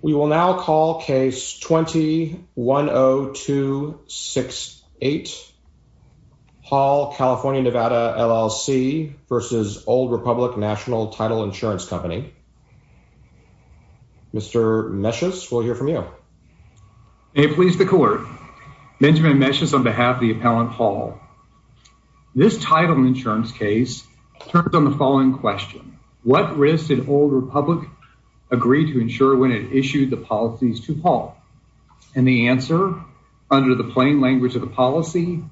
We will now call Case 20-10268, Hall CA-NV, L.L.C. v. Old Republic National Title Insurance Company. Mr. Meshes, we'll hear from you. May it please the Court, Benjamin Meshes on behalf of the Appellant Hall. This title insurance case turns on the following question, What risk did Old Republic agree to ensure when it issued the policies to Hall? And the answer, under the plain language of the policy,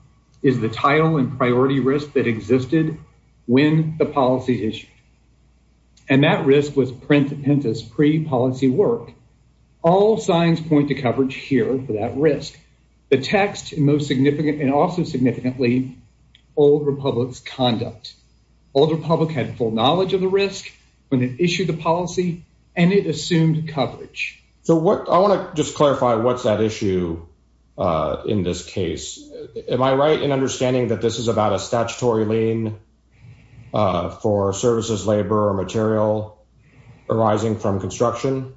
is the title and priority risk that existed when the policy issued. And that risk was pre-policy work. All signs point to coverage here for that risk. The text, and also significantly, Old Republic's conduct. Old Republic had full knowledge of the risk when it issued the policy, and it assumed coverage. So what, I want to just clarify, what's that issue in this case? Am I right in understanding that this is about a statutory lien for services, labor, or material arising from construction?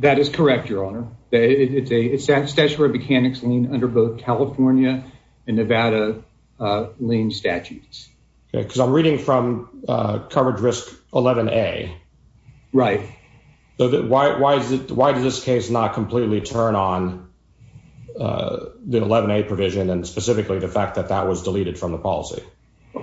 That is correct, Your Honor. It's a statutory mechanics lien under both California and Nevada lien statutes. Because I'm reading from coverage risk 11A. Right. Why did this case not completely turn on the 11A provision, and specifically the fact that that was deleted from the policy?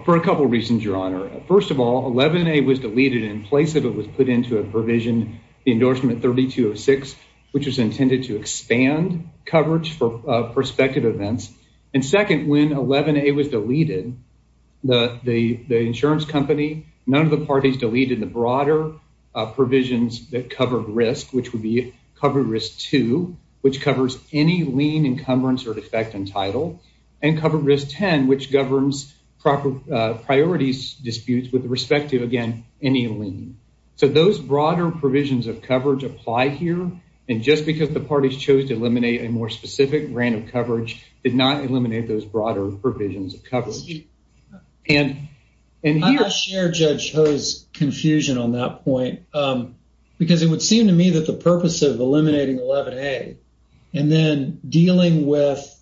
For a couple reasons, Your Honor. First of all, 11A was deleted in place of it was put into a provision, the endorsement 3206, which was intended to expand coverage for prospective events. And second, when 11A was deleted, the insurance company, none of the parties deleted the broader provisions that covered risk, which would be covered risk two, which covers any lien, encumbrance, or defect in title, and covered risk 10, which governs proper priorities, disputes with respect to, again, any lien. So those broader provisions of coverage apply here. And just because the parties chose to eliminate a more specific grant of coverage did not eliminate those broader provisions of coverage. And here- I share Judge Ho's confusion on that point, because it would seem to me that the purpose of eliminating 11A, and then dealing with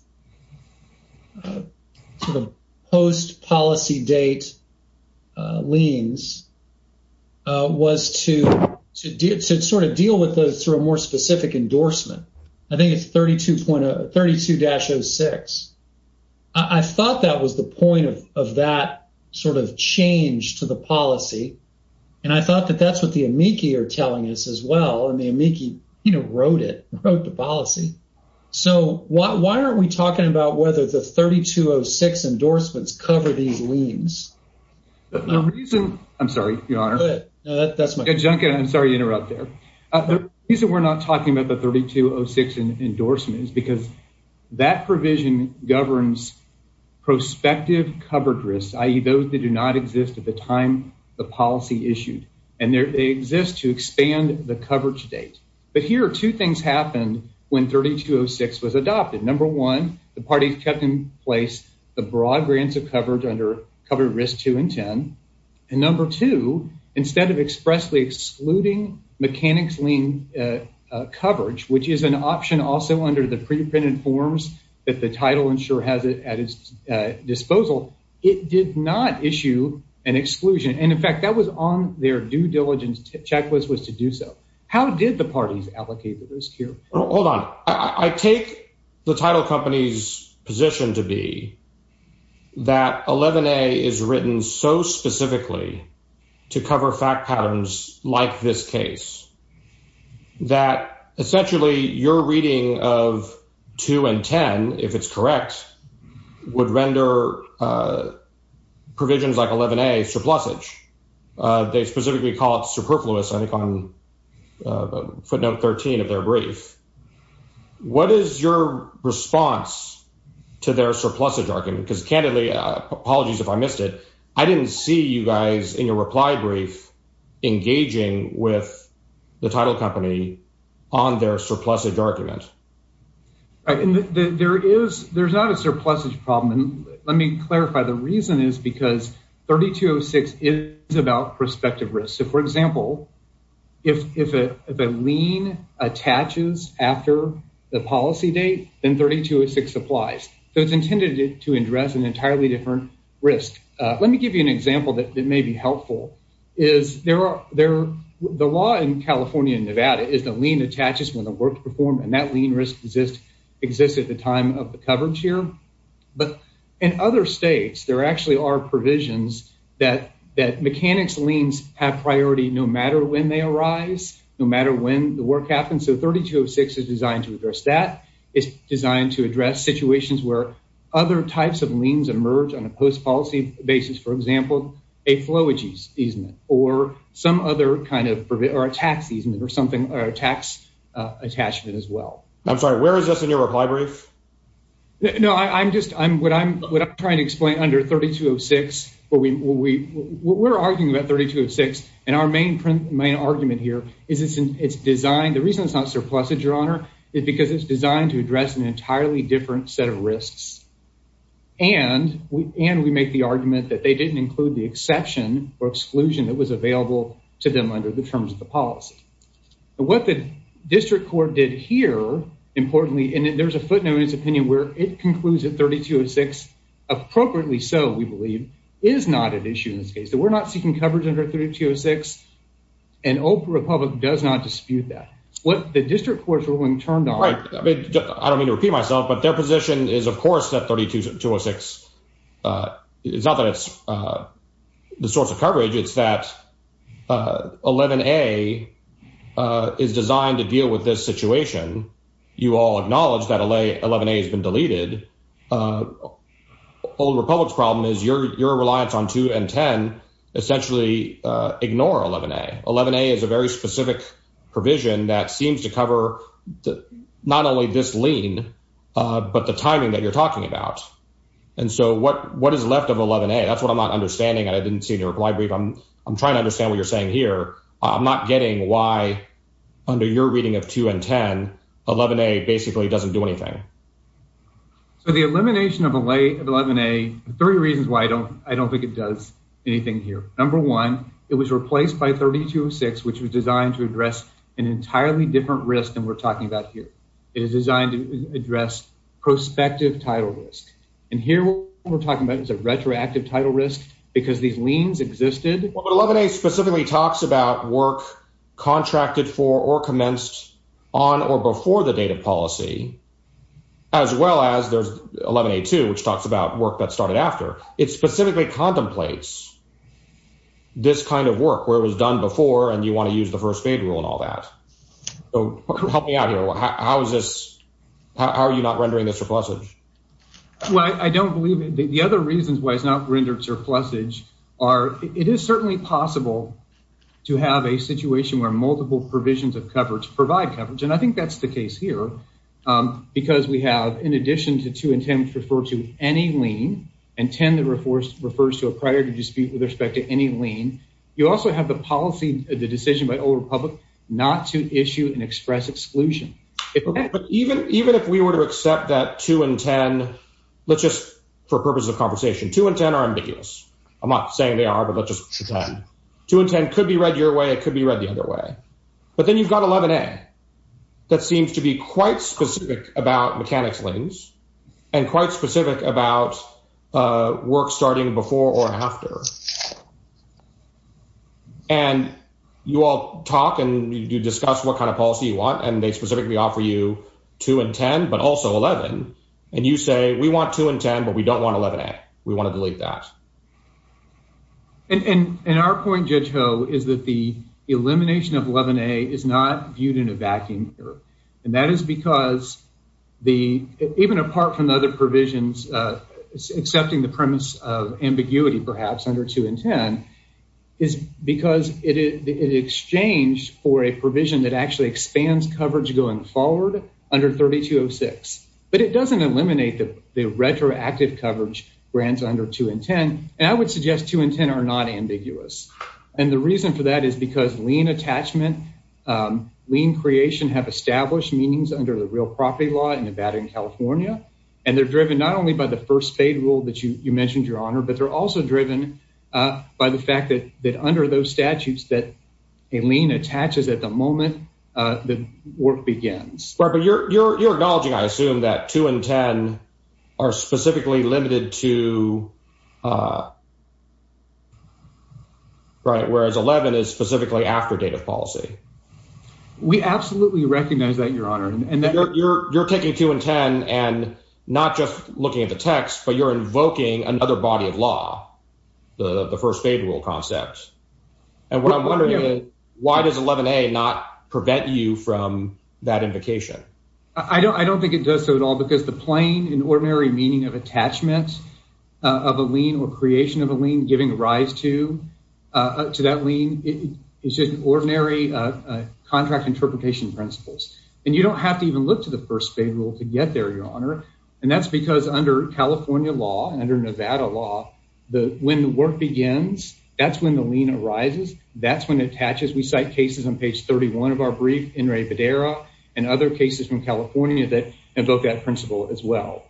post-policy date liens was to sort of deal with those through a more specific endorsement. I think it's 32-06. I thought that was the point of that sort of change to the policy. And I thought that that's what the amici are telling us as well. And the amici, you know, wrote it, wrote the policy. So why aren't we talking about whether the 3206 endorsements cover these liens? The reason- I'm sorry, Your Honor. That's my- Junkin, I'm sorry to interrupt there. The reason we're not talking about the 3206 endorsement is because that provision governs prospective covered risks, i.e. those that do not exist at the time the policy issued. And they exist to expand the coverage date. But here, two things happened when 3206 was adopted. Number one, the parties kept in place the broad grants of coverage under Covered Risks 2 and 10. And number two, instead of expressly excluding mechanics lien coverage, which is an option also under the pre-printed forms that the title insurer has at its disposal, it did not issue an exclusion. And in fact, that was on their due diligence checklist was to do so. How did the parties allocate the risk here? Hold on. I take the title company's position to be that 11A is written so specifically to cover fact patterns like this case that essentially your reading of 2 and 10, if it's correct, would render provisions like 11A surplusage. They specifically call it superfluous, I think, on footnote 13 of their brief. What is your response to their surplusage argument? Because candidly, apologies if I missed it, I didn't see you guys in your reply brief engaging with the title company on their surplusage argument. All right, and there's not a surplusage problem. Let me clarify. The reason is because 3206 is about prospective risk. For example, if a lien attaches after the policy date, then 3206 applies. So it's intended to address an entirely different risk. Let me give you an example that may be helpful. The law in California and Nevada is the lien attaches when the work is performed, and that lien risk exists at the time of the coverage here. But in other states, there actually are provisions that mechanics liens have priority no matter when they arise, no matter when the work happens. So 3206 is designed to address that. It's designed to address situations where other types of liens emerge on a post-policy basis, for example, a flowage easement or a tax easement or a tax attachment as well. I'm sorry, where is this in your reply brief? No, what I'm trying to explain under 3206 where we're arguing about 3206. And our main argument here is it's designed, the reason it's not surplusage, your honor, is because it's designed to address an entirely different set of risks. And we make the argument that they didn't include the exception or exclusion that was available to them under the terms of the policy. And what the district court did here, importantly, and there's a footnote in his opinion where it concludes that 3206, appropriately so, we believe, is not an issue in this case. That we're not seeking coverage under 3206. And Oprah Republic does not dispute that. What the district court's ruling turned out... Right, I don't mean to repeat myself, but their position is, of course, that 3206, it's not that it's the source of coverage, it's that 11A is designed to deal with this situation. You all acknowledge that 11A has been deleted. Oprah Republic's problem is your reliance on 2 and 10 essentially ignore 11A. 11A is a very specific provision that seems to cover not only this lien, but the timing that you're talking about. And so what is left of 11A? That's what I'm not understanding and I didn't see in your reply brief. I'm trying to understand what you're saying here. I'm not getting why, under your reading of 2 and 10, 11A basically doesn't do anything. So the elimination of 11A, there are three reasons why I don't think it does anything here. Number one, it was replaced by 3206, which was designed to address an entirely different risk than we're talking about here. It is designed to address prospective title risk. And here, what we're talking about is a retroactive title risk because these liens existed. 11A specifically talks about work contracted for or commenced on or before the data policy. As well as there's 11A2, which talks about work that started after. It specifically contemplates this kind of work where it was done before and you want to use the first fade rule and all that. So help me out here. How are you not rendering this surplusage? Well, I don't believe it. The other reasons why it's not rendered surplusage are, it is certainly possible to have a situation where multiple provisions of coverage provide coverage. And I think that's the case here. Because we have, in addition to 2 and 10, which refer to any lien, and 10 that refers to a priority dispute with respect to any lien, you also have the policy, the decision by the Oval Republic not to issue an express exclusion. But even if we were to accept that 2 and 10, let's just, for purposes of conversation, 2 and 10 are ambiguous. I'm not saying they are, but let's just pretend. 2 and 10 could be read your way. It could be read the other way. But then you've got 11A that seems to be quite specific about mechanics liens and quite specific about work starting before or after. And you all talk and you discuss what kind of policy you want, and they specifically offer you 2 and 10, but also 11. And you say, we want 2 and 10, but we don't want 11A. We want to delete that. And our point, Judge Ho, is that the elimination of 11A is not viewed in a vacuum here. And that is because, even apart from the other provisions, accepting the premise of ambiguity, perhaps, under 2 and 10, is because it exchanged for a provision that actually expands coverage going forward under 3206. But it doesn't eliminate the retroactive coverage grants under 2 and 10. And I would suggest 2 and 10 are not ambiguous. And the reason for that is because lien attachment, lien creation have established meanings under the real property law in Nevada and California. And they're driven not only by the first paid rule that you mentioned, Your Honor, but they're also driven by the fact that under those statutes that a lien attaches at the moment the work begins. Right, but you're acknowledging, I assume, that 2 and 10 are specifically limited to... Right, whereas 11 is specifically after date of policy. We absolutely recognize that, Your Honor. And you're taking 2 and 10 and not just looking at the text, but you're invoking another body of law, the first paid rule concepts. And what I'm wondering is, why does 11A not prevent you from that invocation? I don't think it does so at all because the plain and ordinary meaning of attachments of a lien or creation of a lien giving rise to that lien is just ordinary contract interpretation principles. And you don't have to even look to the first paid rule to get there, Your Honor. And that's because under California law and under Nevada law, when the work begins, that's when the lien arises, that's when it attaches. We cite cases on page 31 of our brief, Enri Bedera and other cases from California that invoke that principle as well.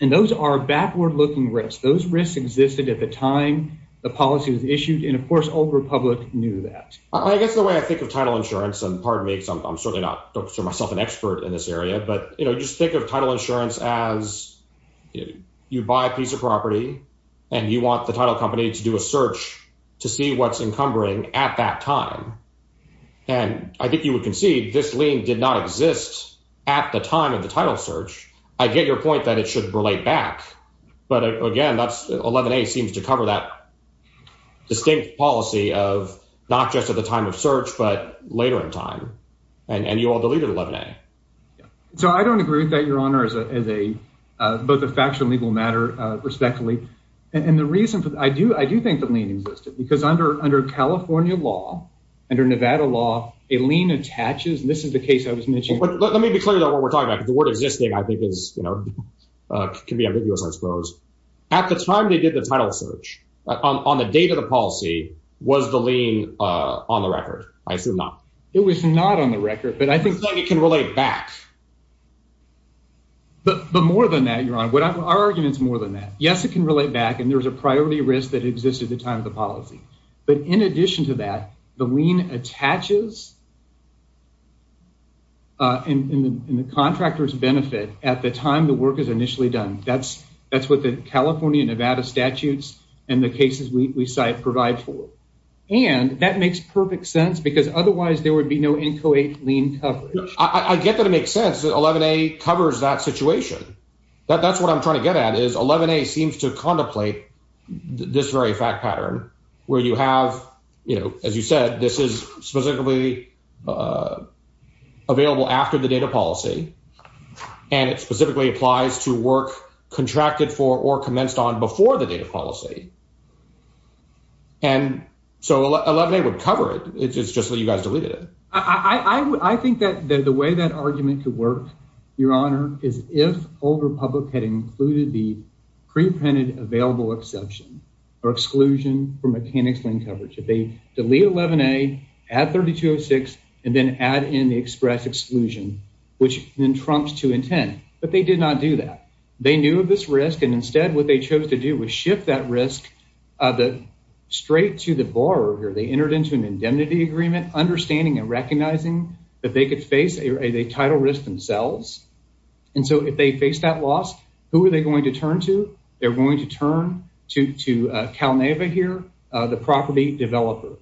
And those are backward looking risks. Those risks existed at the time the policy was issued. And of course, Old Republic knew that. I guess the way I think of title insurance, and pardon me, I'm certainly not myself an expert in this area, but just think of title insurance as you buy a piece of property and you want the title company to do a search to see what's encumbering at that time. And I think you would concede this lien did not exist at the time of the title search. I get your point that it should relate back. But again, 11A seems to cover that distinct policy of not just at the time of search, but later in time. And you all deleted 11A. So I don't agree with that, Your Honor, as both a factual and legal matter, respectfully. And the reason, I do think the lien existed because under California law, under Nevada law, a lien attaches. And this is the case I was mentioning. Let me be clear though what we're talking about. The word existing, I think, can be ambiguous, I suppose. At the time they did the title search, on the date of the policy, was the lien on the record? I assume not. It was not on the record, but I think it can relate back. But more than that, Your Honor, our argument is more than that. Yes, it can relate back. And there was a priority risk that existed at the time of the policy. But in addition to that, the lien attaches in the contractor's benefit at the time the work is initially done. That's what the California and Nevada statutes and the cases we cite provide for. And that makes perfect sense because otherwise there would be no NCOA lien coverage. I get that it makes sense that 11A covers that situation. That's what I'm trying to get at is 11A seems to contemplate this very fact pattern where you have, as you said, this is specifically available after the date of policy. And it specifically applies to work contracted for commenced on before the date of policy. And so 11A would cover it. It's just that you guys deleted it. I think that the way that argument could work, Your Honor, is if Old Republic had included the pre-printed available exception or exclusion for mechanics lien coverage. If they delete 11A, add 3206, and then add in the express exclusion, which then trumps 210. But they did not do that. They knew of this risk and instead what they chose to do was shift that risk straight to the borrower here. They entered into an indemnity agreement, understanding and recognizing that they could face a title risk themselves. And so if they face that loss, who are they going to turn to? They're going to turn to CalNEVA here, the property developer.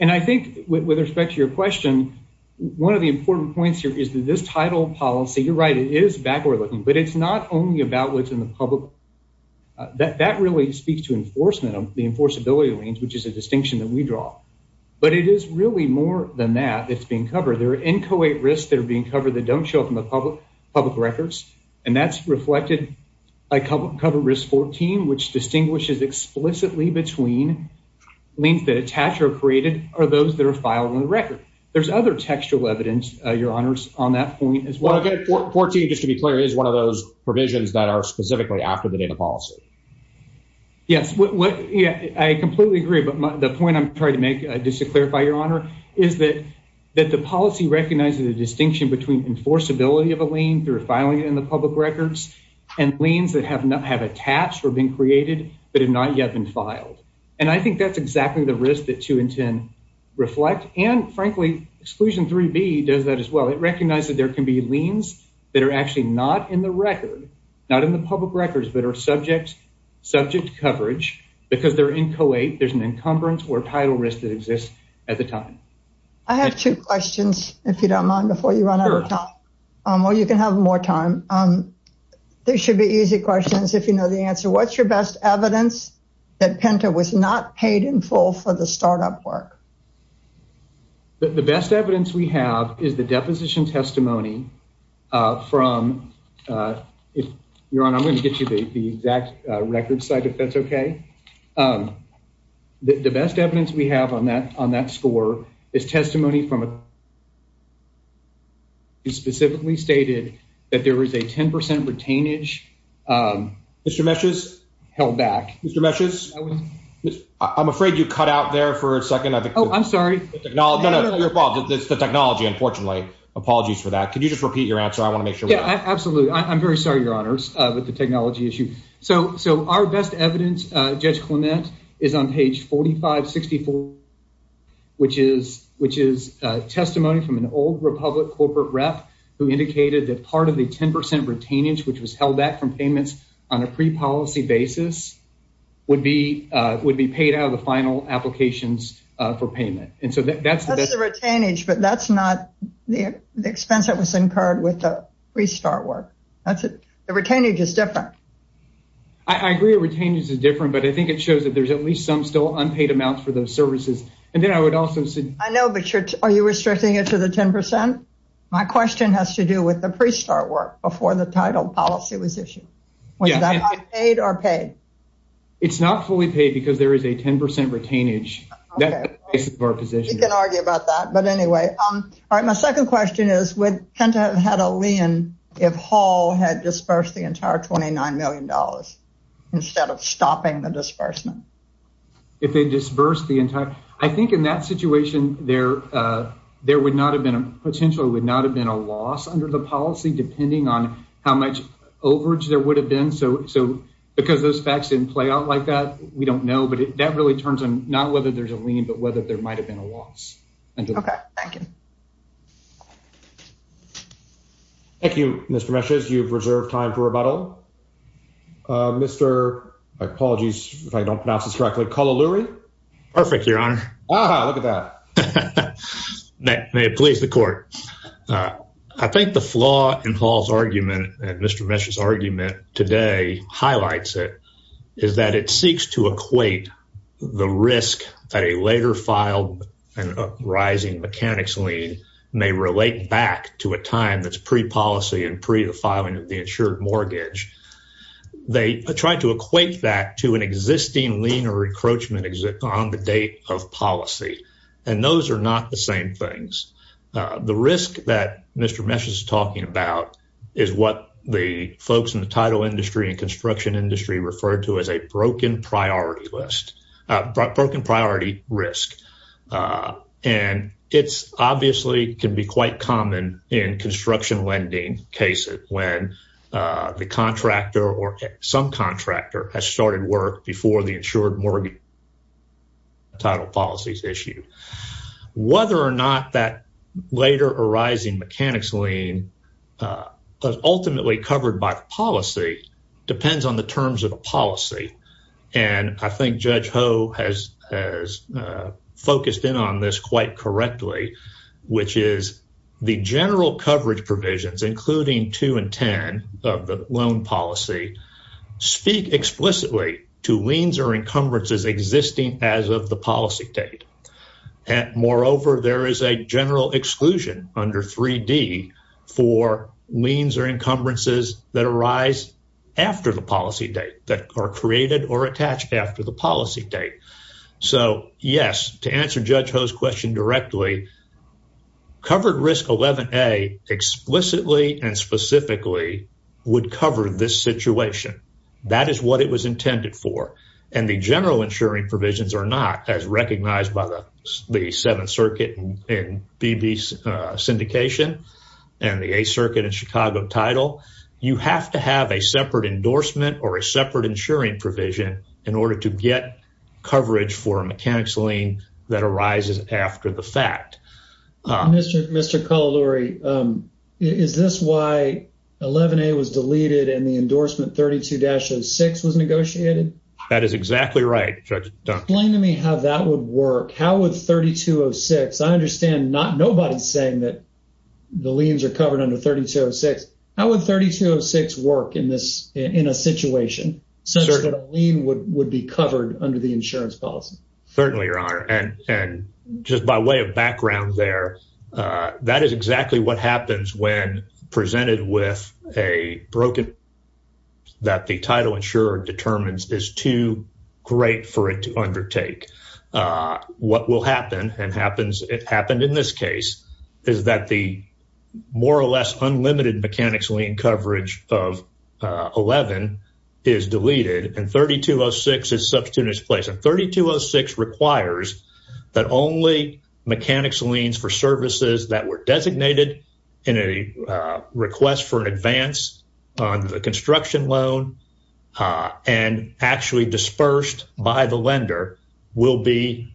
And I think with respect to your question, one of the important points here is that this title policy, you're right, it is backward looking, but it's not only about the public and the public. That really speaks to enforcement of the enforceability liens, which is a distinction that we draw. But it is really more than that that's being covered. There are inchoate risks that are being covered that don't show up in the public records. And that's reflected by cover risk 14, which distinguishes explicitly between liens that attach or created or those that are filed on the record. There's other textual evidence, Your Honors, on that point as well. Well, again, 14, just to be clear, is one of those provisions that are specifically after the data policy. Yes, I completely agree. But the point I'm trying to make, just to clarify, Your Honor, is that the policy recognizes the distinction between enforceability of a lien through filing it in the public records and liens that have attached or been created, but have not yet been filed. And I think that's exactly the risk that 2 and 10 reflect. And frankly, exclusion 3B does that as well. It recognizes there can be liens that are actually not in the record. Not in the public records, but are subject coverage because they're in collate. There's an encumbrance or title risk that exists at the time. I have two questions, if you don't mind, before you run out of time. Or you can have more time. They should be easy questions if you know the answer. What's your best evidence that Penta was not paid in full for the startup work? The best evidence we have is the deposition testimony from, Your Honor, I'm going to get you the exact record site, if that's okay. The best evidence we have on that score is testimony from a... He specifically stated that there was a 10% retainage. Mr. Meshes? Held back. Mr. Meshes? I'm afraid you cut out there for a second. I think... Oh, I'm sorry. No, no, no, no, you're fault. It's the technology, unfortunately. Apologies for that. Can you just repeat your answer? I want to make sure... Yeah, absolutely. I'm very sorry, Your Honors, with the technology issue. So our best evidence, Judge Clement, is on page 4564, which is testimony from an old Republic corporate rep who indicated that part of the 10% retainage, which was held back from payments on a pre-policy basis, would be paid out of the final applications for payment. And so that's... That's the retainage, but that's not the expense that was incurred with the pre-start work. That's it. The retainage is different. I agree, retainage is different, but I think it shows that there's at least some still unpaid amounts for those services. And then I would also say... I know, but are you restricting it to the 10%? My question has to do with the pre-start work before the title policy was issued. Was that unpaid or paid? It's not fully paid because there is a 10% retainage. That's the basis of our position. You can argue about that. But anyway, my second question is, would Penta have had a lien if Hall had disbursed the entire $29 million instead of stopping the disbursement? If they disbursed the entire... I think in that situation, there would not have been a... Potentially would not have been a loss under the policy, depending on how much overage there would have been. So because those facts didn't play out like that, we don't know. But that really turns on not whether there's a lien, but whether there might have been a loss. OK, thank you. Thank you, Mr. Meshes. You've reserved time for rebuttal. Mr. I apologize if I don't pronounce this correctly, Kulaluri? Perfect, Your Honor. Ah, look at that. May it please the court. I think the flaw in Hall's argument and Mr. Meshes' argument today highlights it, is that it seeks to equate the risk that a later file and a rising mechanics lien may relate back to a time that's pre-policy and pre the filing of the insured mortgage. They tried to equate that to an existing lien or encroachment exit on the date of policy. And those are not the same things. The risk that Mr. Meshes is talking about is what the folks in the title industry and construction industry referred to as a broken priority list, broken priority risk. Ah, and it's obviously can be quite common in construction lending cases when the contractor or some contractor has started work before the insured mortgage title policy is issued. Whether or not that later arising mechanics lien was ultimately covered by policy depends on the terms of the policy. And I think Judge Ho has focused in on this quite correctly, which is the general coverage provisions, including 2 and 10 of the loan policy, speak explicitly to liens or encumbrances existing as of the policy date. Moreover, there is a general exclusion under 3D for liens or encumbrances that arise after the policy date that are created or attached after the policy date. So, yes, to answer Judge Ho's question directly, covered risk 11A explicitly and specifically would cover this situation. That is what it was intended for. And the general insuring provisions are not as recognized by the Seventh Circuit and BB syndication and the Eighth Circuit and Chicago title. You have to have a separate endorsement or a separate insuring provision in order to get coverage for a mechanic's lien that arises after the fact. Mr. Cololuri, is this why 11A was deleted and the endorsement 32-06 was negotiated? That is exactly right, Judge Dunn. Explain to me how that would work. How would 32-06? I understand nobody's saying that the liens are covered under 32-06. How would 32-06 work in a situation such that a lien would be covered under the insurance policy? Certainly, Your Honor. And just by way of background there, that is exactly what happens when presented with a broken that the title insurer determines is too great for it to undertake. What will happen, and it happened in this case, is that the more or less unlimited mechanic's lien coverage of 11 is deleted, and 32-06 is substituted in its place. And 32-06 requires that only mechanic's liens for services that were designated in a request for an advance on the construction loan and actually dispersed by the lender will be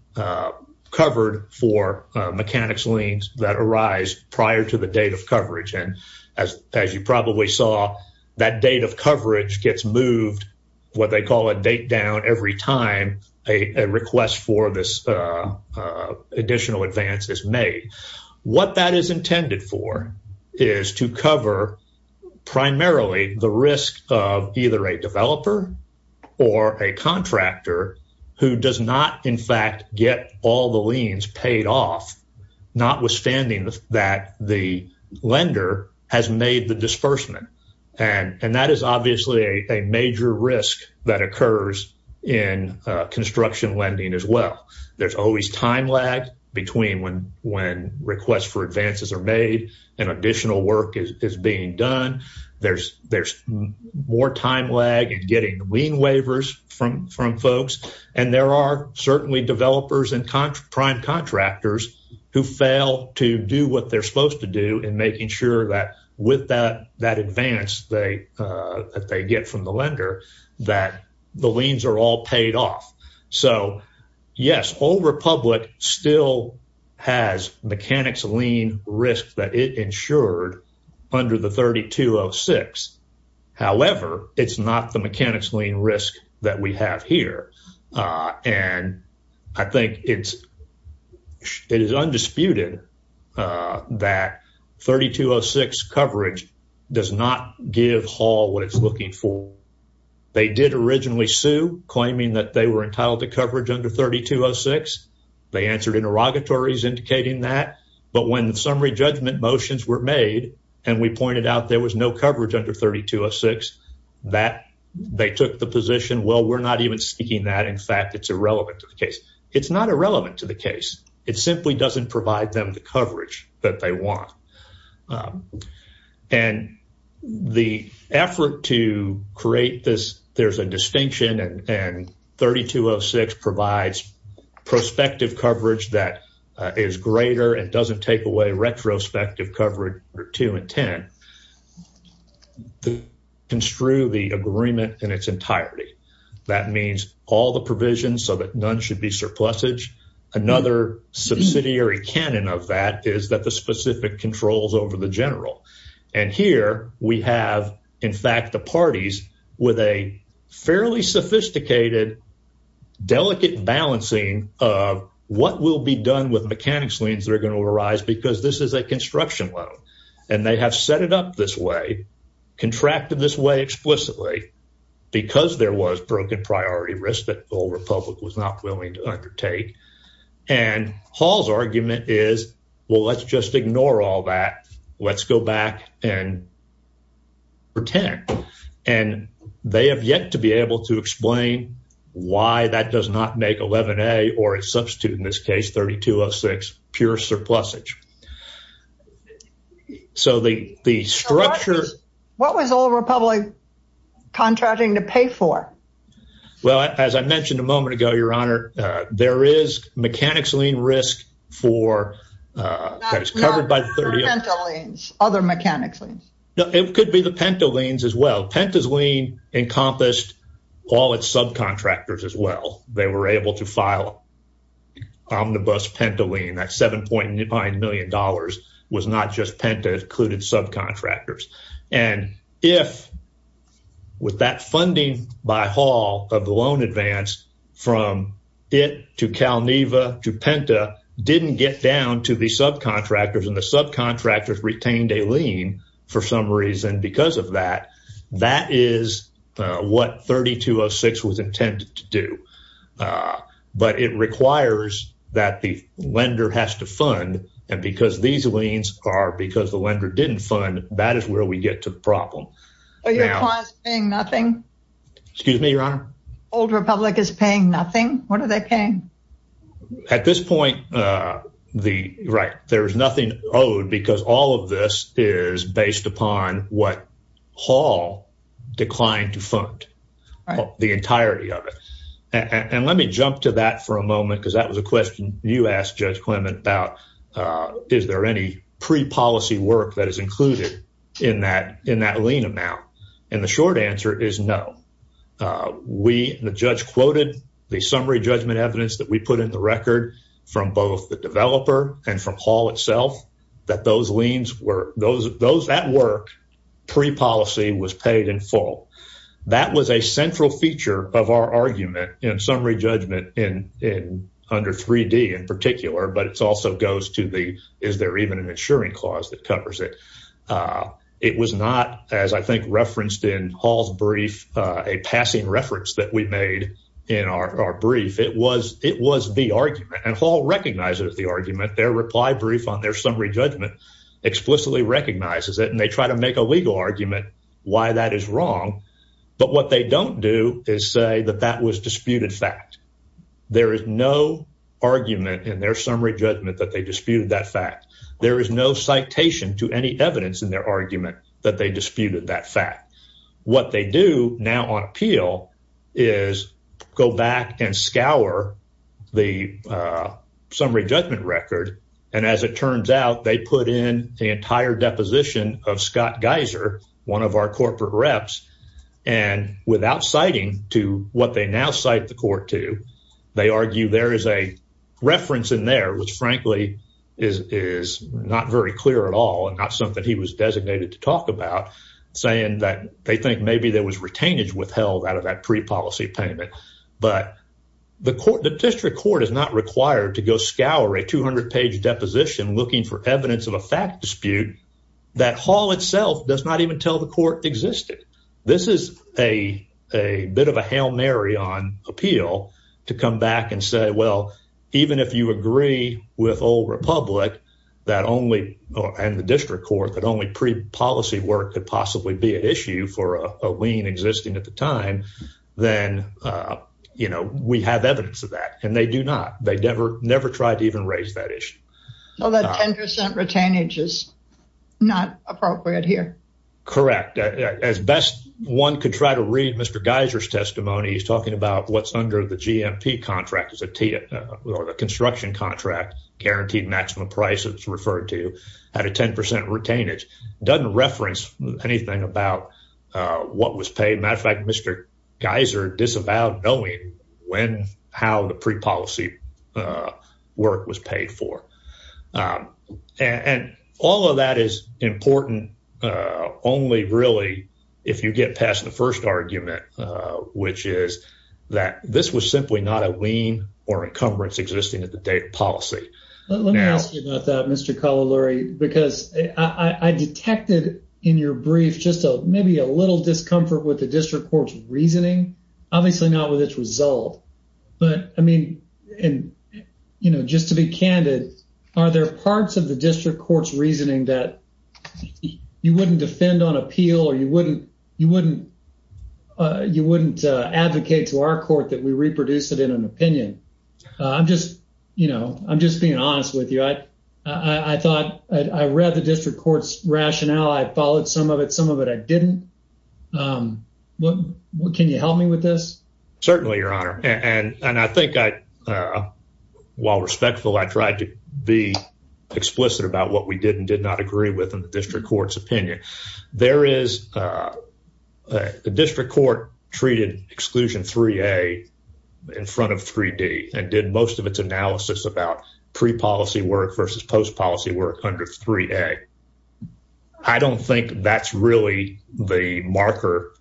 covered for mechanic's liens that arise prior to the date of coverage. And as you probably saw, that date of coverage gets moved, what they call a date down every time a request for this additional advance is made. What that is intended for is to cover primarily the risk of either a developer or a contractor who does not, in fact, get all the liens paid off, notwithstanding that the lender has made the disbursement. And that is obviously a major risk that occurs in construction lending as well. There's always time lag between when requests for advances are made and additional work is being done. There's more time lag in getting lien waivers from folks. And there are certainly developers and prime contractors who fail to do what they're supposed to do in making sure that with that advance that they get from the lender, that the liens are all paid off. So, yes, Old Republic still has mechanic's lien risk that it insured under the 3206. However, it's not the mechanic's lien risk that we have here. And I think it is undisputed that 3206 coverage does not give Hall what it's looking for. They did originally sue claiming that they were entitled to coverage under 3206. They answered interrogatories indicating that. But when the summary judgment motions were made, and we pointed out there was no coverage under 3206, that they took the position, well, we're not even speaking that. In fact, it's irrelevant to the case. It's not irrelevant to the case. It simply doesn't provide them the coverage that they want. And the effort to create this, there's a distinction, and 3206 provides prospective coverage that is greater and doesn't take away retrospective coverage under 2100, to construe the agreement in its entirety. That means all the provisions so that none should be surplusage. Another subsidiary canon of that is that the specific controls over the general. And here we have, in fact, the parties with a fairly sophisticated, delicate balancing of what will be done with mechanics liens that are going to arise because this is a construction loan. And they have set it up this way, contracted this way explicitly, because there was broken priority risk that the whole republic was not willing to undertake. And Hall's argument is, well, let's just ignore all that. Let's go back and pretend. And they have yet to be able to explain why that does not make 11a or a substitute in this case, 3206, pure surplusage. So the structure. What was all republic contracting to pay for? Well, as I mentioned a moment ago, Your Honor, there is mechanics lien risk for that is covered by 30 other mechanics. It could be the Penta liens as well. Penta's lien encompassed all its subcontractors as well. They were able to file omnibus Penta lien at $7.9 million was not just Penta included subcontractors. And if with that funding by Hall of the loan advance from it to Calneva to Penta didn't get down to the subcontractors and the subcontractors retained a lien for some reason because of that, that is what 3206 was intended to do. But it requires that the lender has to fund. And because these liens are because the lender didn't fund. Are you saying nothing? Excuse me, Your Honor. Old Republic is paying nothing. What are they paying? At this point, right, there's nothing owed because all of this is based upon what Hall declined to fund. The entirety of it. And let me jump to that for a moment because that was a question you asked Judge Clement about. Is there any pre-policy work that is included in that lien amount? And the short answer is no. We, the judge quoted the summary judgment evidence that we put in the record from both the developer and from Hall itself that those liens were those that work pre-policy was paid in full. That was a central feature of our argument in summary judgment in under 3D in particular. But it's also goes to the is there even an insuring clause that covers it? It was not as I think referenced in Hall's brief, a passing reference that we made in our brief. It was the argument and Hall recognizes the argument. Their reply brief on their summary judgment explicitly recognizes it and they try to make a legal argument why that is wrong. But what they don't do is say that that was disputed fact. There is no argument in their summary judgment that they disputed that fact. There is no citation to any evidence in their argument that they disputed that fact. What they do now on appeal is go back and scour the summary judgment record. And as it turns out, they put in the entire deposition of Scott Geiser, one of our corporate reps. And without citing to what they now cite the court to, they argue there is a reference in there, which frankly is not very clear at all and not something he was designated to talk about saying that they think maybe there was retainage withheld out of that pre-policy payment. But the court, the district court is not required to go scour a 200-page deposition looking for evidence of a fact dispute that Hall itself does not even tell the court existed. This is a bit of a Hail Mary on appeal to come back and say, well, even if you agree with Old Republic that only, and the district court, that only pre-policy work could possibly be an issue for a lien existing at the time, then, you know, we have evidence of that. And they do not. They never, never tried to even raise that issue. Well, that 10% retainage is not appropriate here. Correct. As best one could try to read Mr. Geiser's testimony, he's talking about what's under the GMP contract is a construction contract, guaranteed maximum price that it's referred to at a 10% retainage. Doesn't reference anything about what was paid. Matter of fact, Mr. Geiser disavowed knowing when, how the pre-policy work was paid for. And all of that is important only really if you get past the first argument, which is that this was simply not a lien or encumbrance existing at the date of policy. Let me ask you about that, Mr. Collaluri, because I detected in your brief, just maybe a little discomfort with the district court's reasoning, obviously not with its result. But I mean, and, you know, just to be candid, are there parts of the district court's reasoning that you wouldn't defend on appeal or you wouldn't advocate to our court that we reproduce it in an opinion? I'm just, you know, I'm just being honest with you. I thought I read the district court's rationale. I followed some of it. Some of it I didn't. Can you help me with this? Certainly, your honor. And I think while respectful, I tried to be explicit about what we did and did not agree with in the district court's opinion. There is a district court treated exclusion 3A in front of 3D and did most of its analysis about pre-policy work versus post-policy work under 3A. I don't think that's really the marker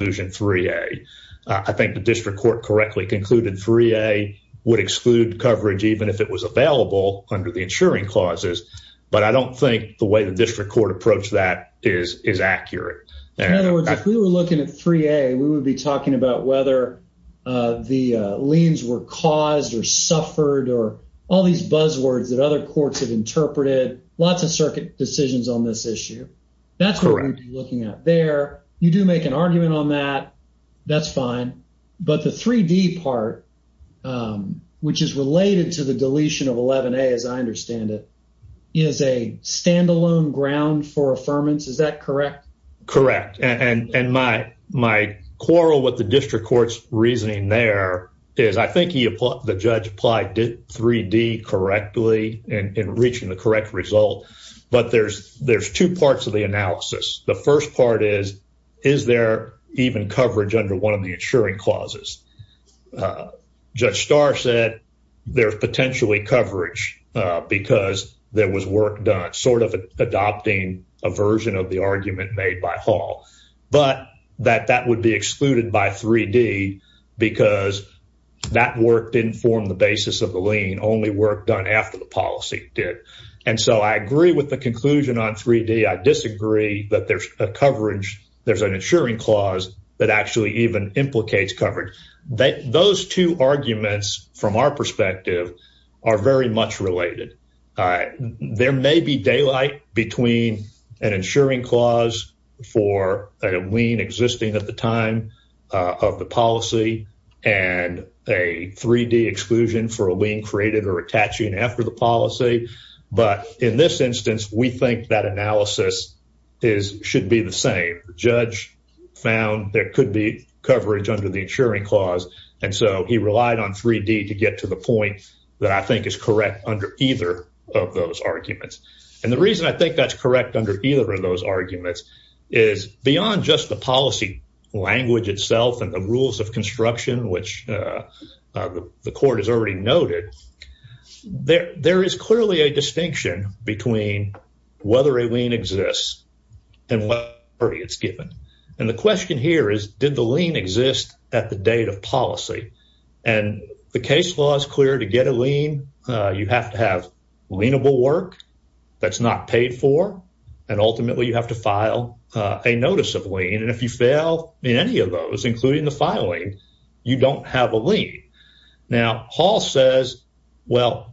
exclusion 3A. I think the district court correctly concluded 3A would exclude coverage even if it was available under the insuring clauses. But I don't think the way the district court approached that is accurate. In other words, if we were looking at 3A, we would be talking about whether the liens were caused or suffered or all these buzzwords that other courts have interpreted. Lots of circuit decisions on this issue. That's what we're looking at there. You do make an argument on that. That's fine. But the 3D part, which is related to the deletion of 11A as I understand it, is a standalone ground for affirmance. Is that correct? Correct. And my quarrel with the district court's reasoning there is I think the judge applied 3D correctly in reaching the correct result. But there's two parts of the analysis. The first part is, is there even coverage under one of the insuring clauses? Judge Starr said there's potentially coverage because there was work done sort of adopting a version of the argument made by Hall. But that that would be excluded by 3D because that work didn't form the basis of the lien, only work done after the policy did. And so I agree with the conclusion on 3D. I disagree that there's a coverage, there's an insuring clause that actually even implicates coverage. Those two arguments from our perspective are very much related. There may be daylight between an insuring clause for a lien existing at the time of the policy and a 3D exclusion for a lien created or attaching after the policy. But in this instance, we think that analysis should be the same. The judge found there could be coverage under the insuring clause. And so he relied on 3D to get to the point that I think is correct under either of those arguments. And the reason I think that's correct under either of those arguments is beyond just the policy language itself and the rules of construction, which the court has already noted. There is clearly a distinction between whether a lien exists and whether it's given. And the question here is, did the lien exist at the date of policy? And the case law is clear. To get a lien, you have to have lienable work that's not paid for. And ultimately, you have to file a notice of lien. And if you fail in any of those, including the filing, you don't have a lien. Now, Hall says, well,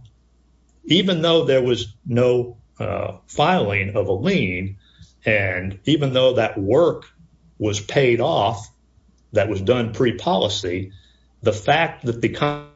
even though there was no filing of a lien, and even though that work was paid off that was done pre-policy, the fact that the company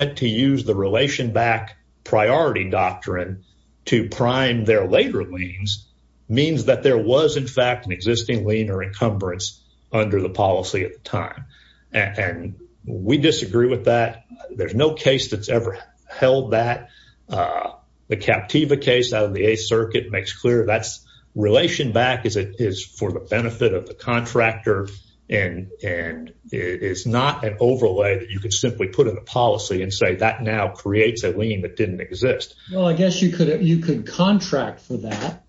had to use the relation-back priority doctrine to prime their later liens means that there was, in fact, an existing lien or encumbrance under the policy at the time. And we disagree with that. There's no case that's ever held that. The Captiva case out of the 8th Circuit makes clear that relation-back is for the benefit of the contractor and it is not an overlay that you could simply put in a policy and say that now creates a lien that didn't exist. Well, I guess you could contract for that,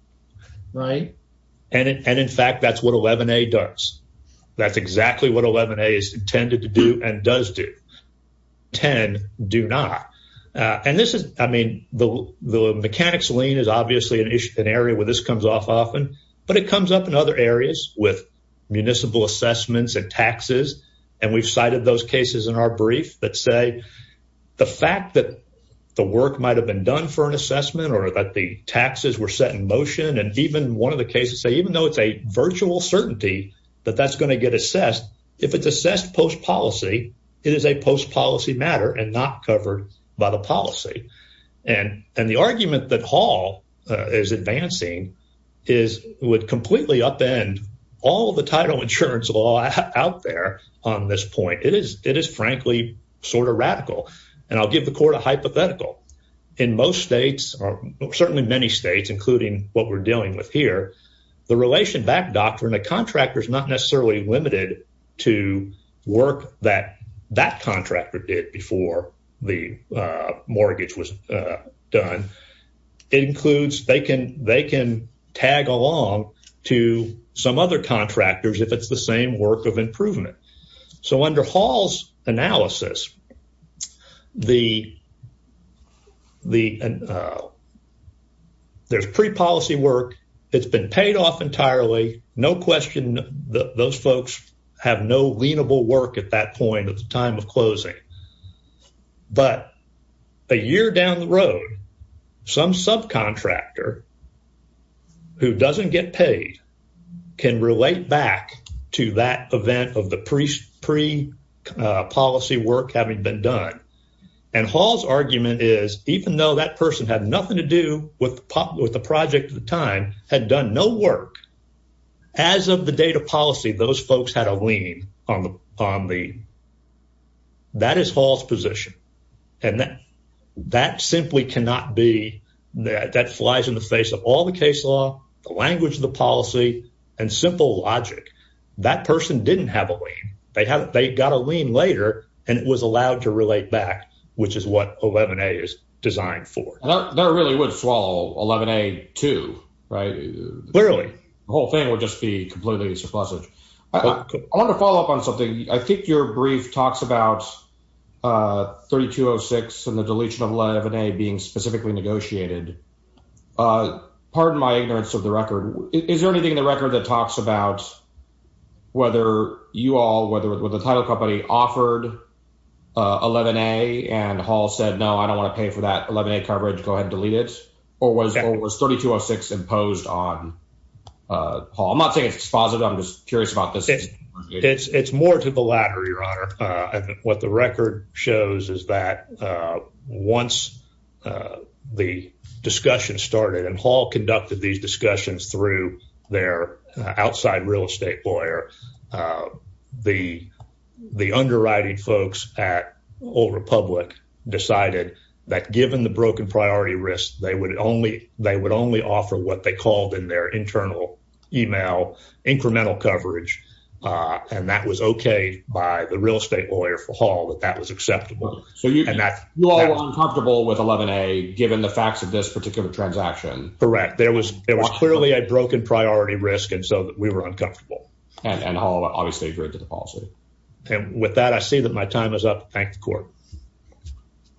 right? And in fact, that's what 11A does. That's exactly what 11A is intended to do and does do. 10 do not. And this is, I mean, the mechanics lien is obviously an area where this comes off often, but it comes up in other areas with municipal assessments and taxes. And we've cited those cases in our brief that say the fact that the work might have been done for an assessment or that the taxes were set in motion, and even one of the cases say, even though it's a virtual certainty that that's going to get assessed, if it's assessed post-policy, it is a post-policy matter and not covered by the policy. And the argument that Hall is advancing is it would completely upend all the title insurance law out there on this point. It is, frankly, sort of radical. And I'll give the court a hypothetical. In most states, or certainly many states, including what we're dealing with here, the relation back doctrine, the contractor is not necessarily limited to work that that contractor did before the mortgage was done. It includes, they can tag along to some other contractors if it's the same work of improvement. So under Hall's analysis, there's pre-policy work. It's been paid off entirely. No question those folks have no lienable work at that point at the time of closing. But a year down the road, some subcontractor who doesn't get paid can relate back to that event of the pre-policy work having been done. And Hall's argument is, even though that person had nothing to do with the project at the time, had done no work, as of the date of policy, those folks had a lien on the lien. That is Hall's position. And that simply cannot be, that flies in the face of all the case law, the language of the policy, and simple logic. That person didn't have a lien. They got a lien later, and it was allowed to relate back, which is what 11A is designed for. And that really would swallow 11A too, right? Clearly. The whole thing would just be completely surplusage. I want to follow up on something. I think your brief talks about 3206 and the deletion of 11A being specifically negotiated. Pardon my ignorance of the record. Is there anything in the record that talks about whether you all, whether the title company offered 11A, and Hall said, no, I don't want to pay for that 11A coverage. Go ahead and delete it. Or was 3206 imposed on Hall? I'm not saying it's dispositive. I'm just curious about this. It's more to the latter, your honor. What the record shows is that once the discussion started, and Hall conducted these discussions through their outside real estate lawyer, the underwriting folks at Old Republic decided that given the broken priority risk, they would only offer what they called in their internal email incremental coverage. And that was okay by the real estate lawyer for Hall that that was acceptable. So you all were uncomfortable with 11A given the facts of this particular transaction. Correct. There was clearly a broken priority risk and so we were uncomfortable. And Hall obviously agreed to the policy. And with that, I see that my time is up. Thank the court.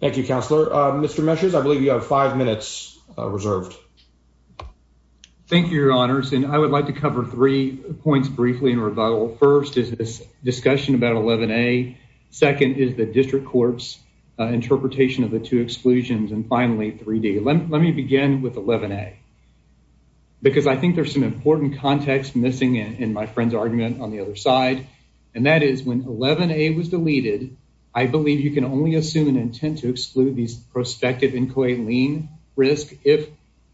Thank you, counselor. Mr. Measures, I believe you have five minutes reserved. Thank you, your honors. And I would like to cover three points briefly in rebuttal. First is this discussion about 11A. Second is the district court's interpretation of the two exclusions. And finally, 3D. Let me begin with 11A because I think there's some important context missing in my friend's argument on the other side. And that is when 11A was deleted, I believe you can only assume an intent to exclude these prospective employee lien risk if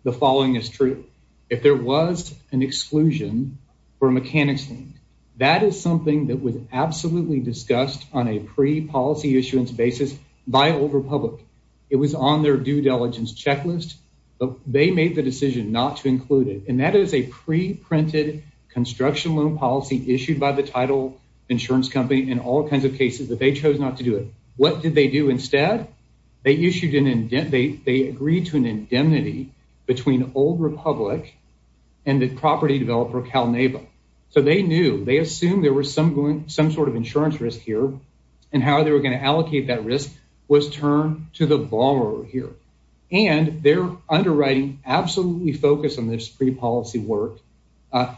the following is true. If there was an exclusion for a mechanics lien, that is something that was absolutely discussed on a pre-policy issuance basis by Old Republic. It was on their due diligence checklist, but they made the decision not to include it. And that is a pre-printed construction loan policy issued by the title insurance company in all kinds of cases that they chose not to do it. What did they do instead? They issued an indent. They agreed to an indemnity between Old Republic and the property developer CalNeva. So they knew they assumed there was some going some sort of insurance risk here and how they were going to allocate that risk was turned to the borrower here. And their underwriting absolutely focused on this pre-policy work.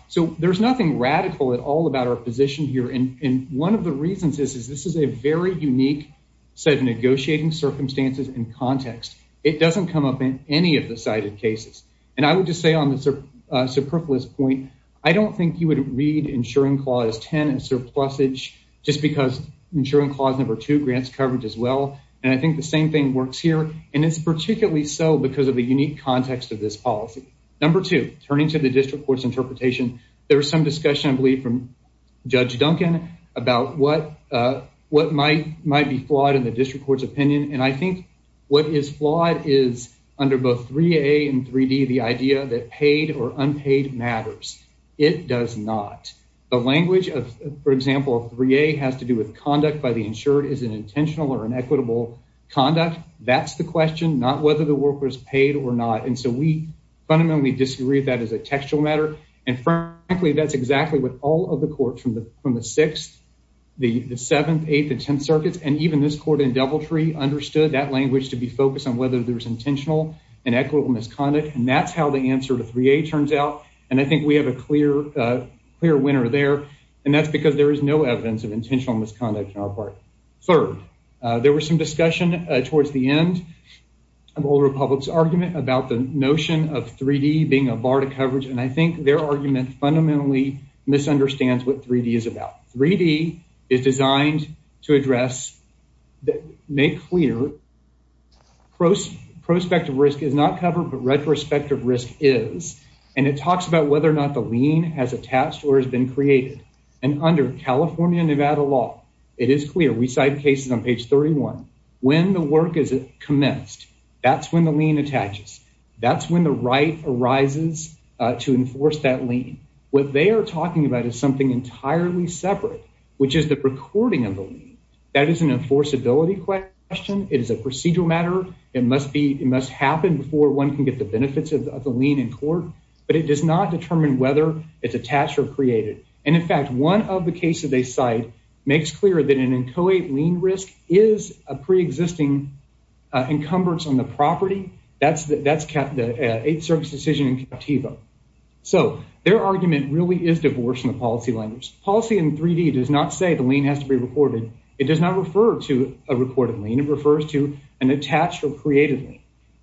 So there's nothing radical at all about our position here. And one of the reasons is this is a very unique set of negotiating circumstances and context. It doesn't come up in any of the cited cases. And I would just say on the superfluous point, I don't think you would read insuring clause 10 as surplusage just because insuring clause number two grants coverage as well. And I think the same thing works here. And it's particularly so because of the unique context of this policy. Number two, turning to the district court's interpretation. There was some discussion, I believe, from Judge Duncan about what what might might be flawed in the district court's opinion. And I think what is flawed is under both 3A and 3D, the idea that paid or unpaid matters. It does not. The language of, for example, 3A has to do with conduct by the insured is an intentional or inequitable conduct. That's the question, not whether the worker is paid or not. And so we fundamentally disagree that as a textual matter. And frankly, that's exactly what all of the courts from the from the sixth, the seventh, eighth and 10th circuits, and even this court in Deviltree understood that language to be focused on whether there's intentional and equitable misconduct. And that's how the answer to 3A turns out. And I think we have a clear, clear winner there. And that's because there is no evidence of intentional misconduct in our part. Third, there was some discussion towards the end of Old Republic's argument about the notion of 3D being a bar to coverage. And I think their argument fundamentally misunderstands what 3D is about. 3D is designed to address that make clear prospective risk is not covered, but retrospective risk is. And it talks about whether or not the lien has attached or has been created. And under California Nevada law, it is clear we cite cases on page 31. When the work is commenced, that's when the lien attaches. That's when the right arises to enforce that lien. What they are talking about is something entirely separate, which is the recording of the lien. That is an enforceability question. It is a procedural matter. It must happen before one can get the benefits of the lien in court, but it does not determine whether it's attached or created. And in fact, one of the cases they cite makes clear that an inchoate lien risk is a preexisting encumbrance on the property. That's the eighth service decision in Captiva. So their argument really is divorce in the policy language. Policy in 3D does not say the lien has to be recorded. It does not refer to a recorded lien. It refers to an attached or created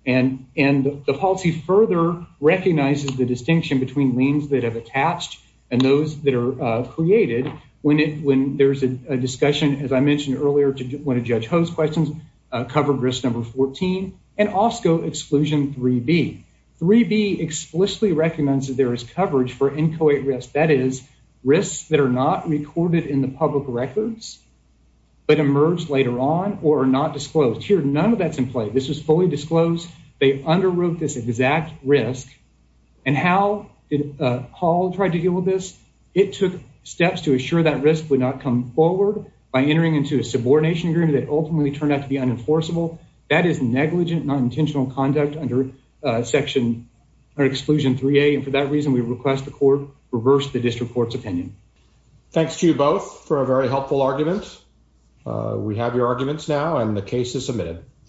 lien. And the policy further recognizes the distinction between liens that have attached and those that are created when there's a discussion, as I mentioned earlier, when a judge host questions covered risk number 14 and also exclusion 3B. 3B explicitly recommends that there is coverage for inchoate risk. That is risks that are not recorded in the public records, but emerge later on or are not disclosed. Here, none of that's in play. This was fully disclosed. They underwrote this exact risk. And how did Paul try to deal with this? It took steps to assure that risk would not come forward by entering into a subordination agreement that ultimately turned out to be unenforceable. That is negligent, non-intentional conduct under section or exclusion 3A. And for that reason, we request the court reverse the district court's opinion. Thanks to you both for a very helpful argument. We have your arguments now and the case is submitted.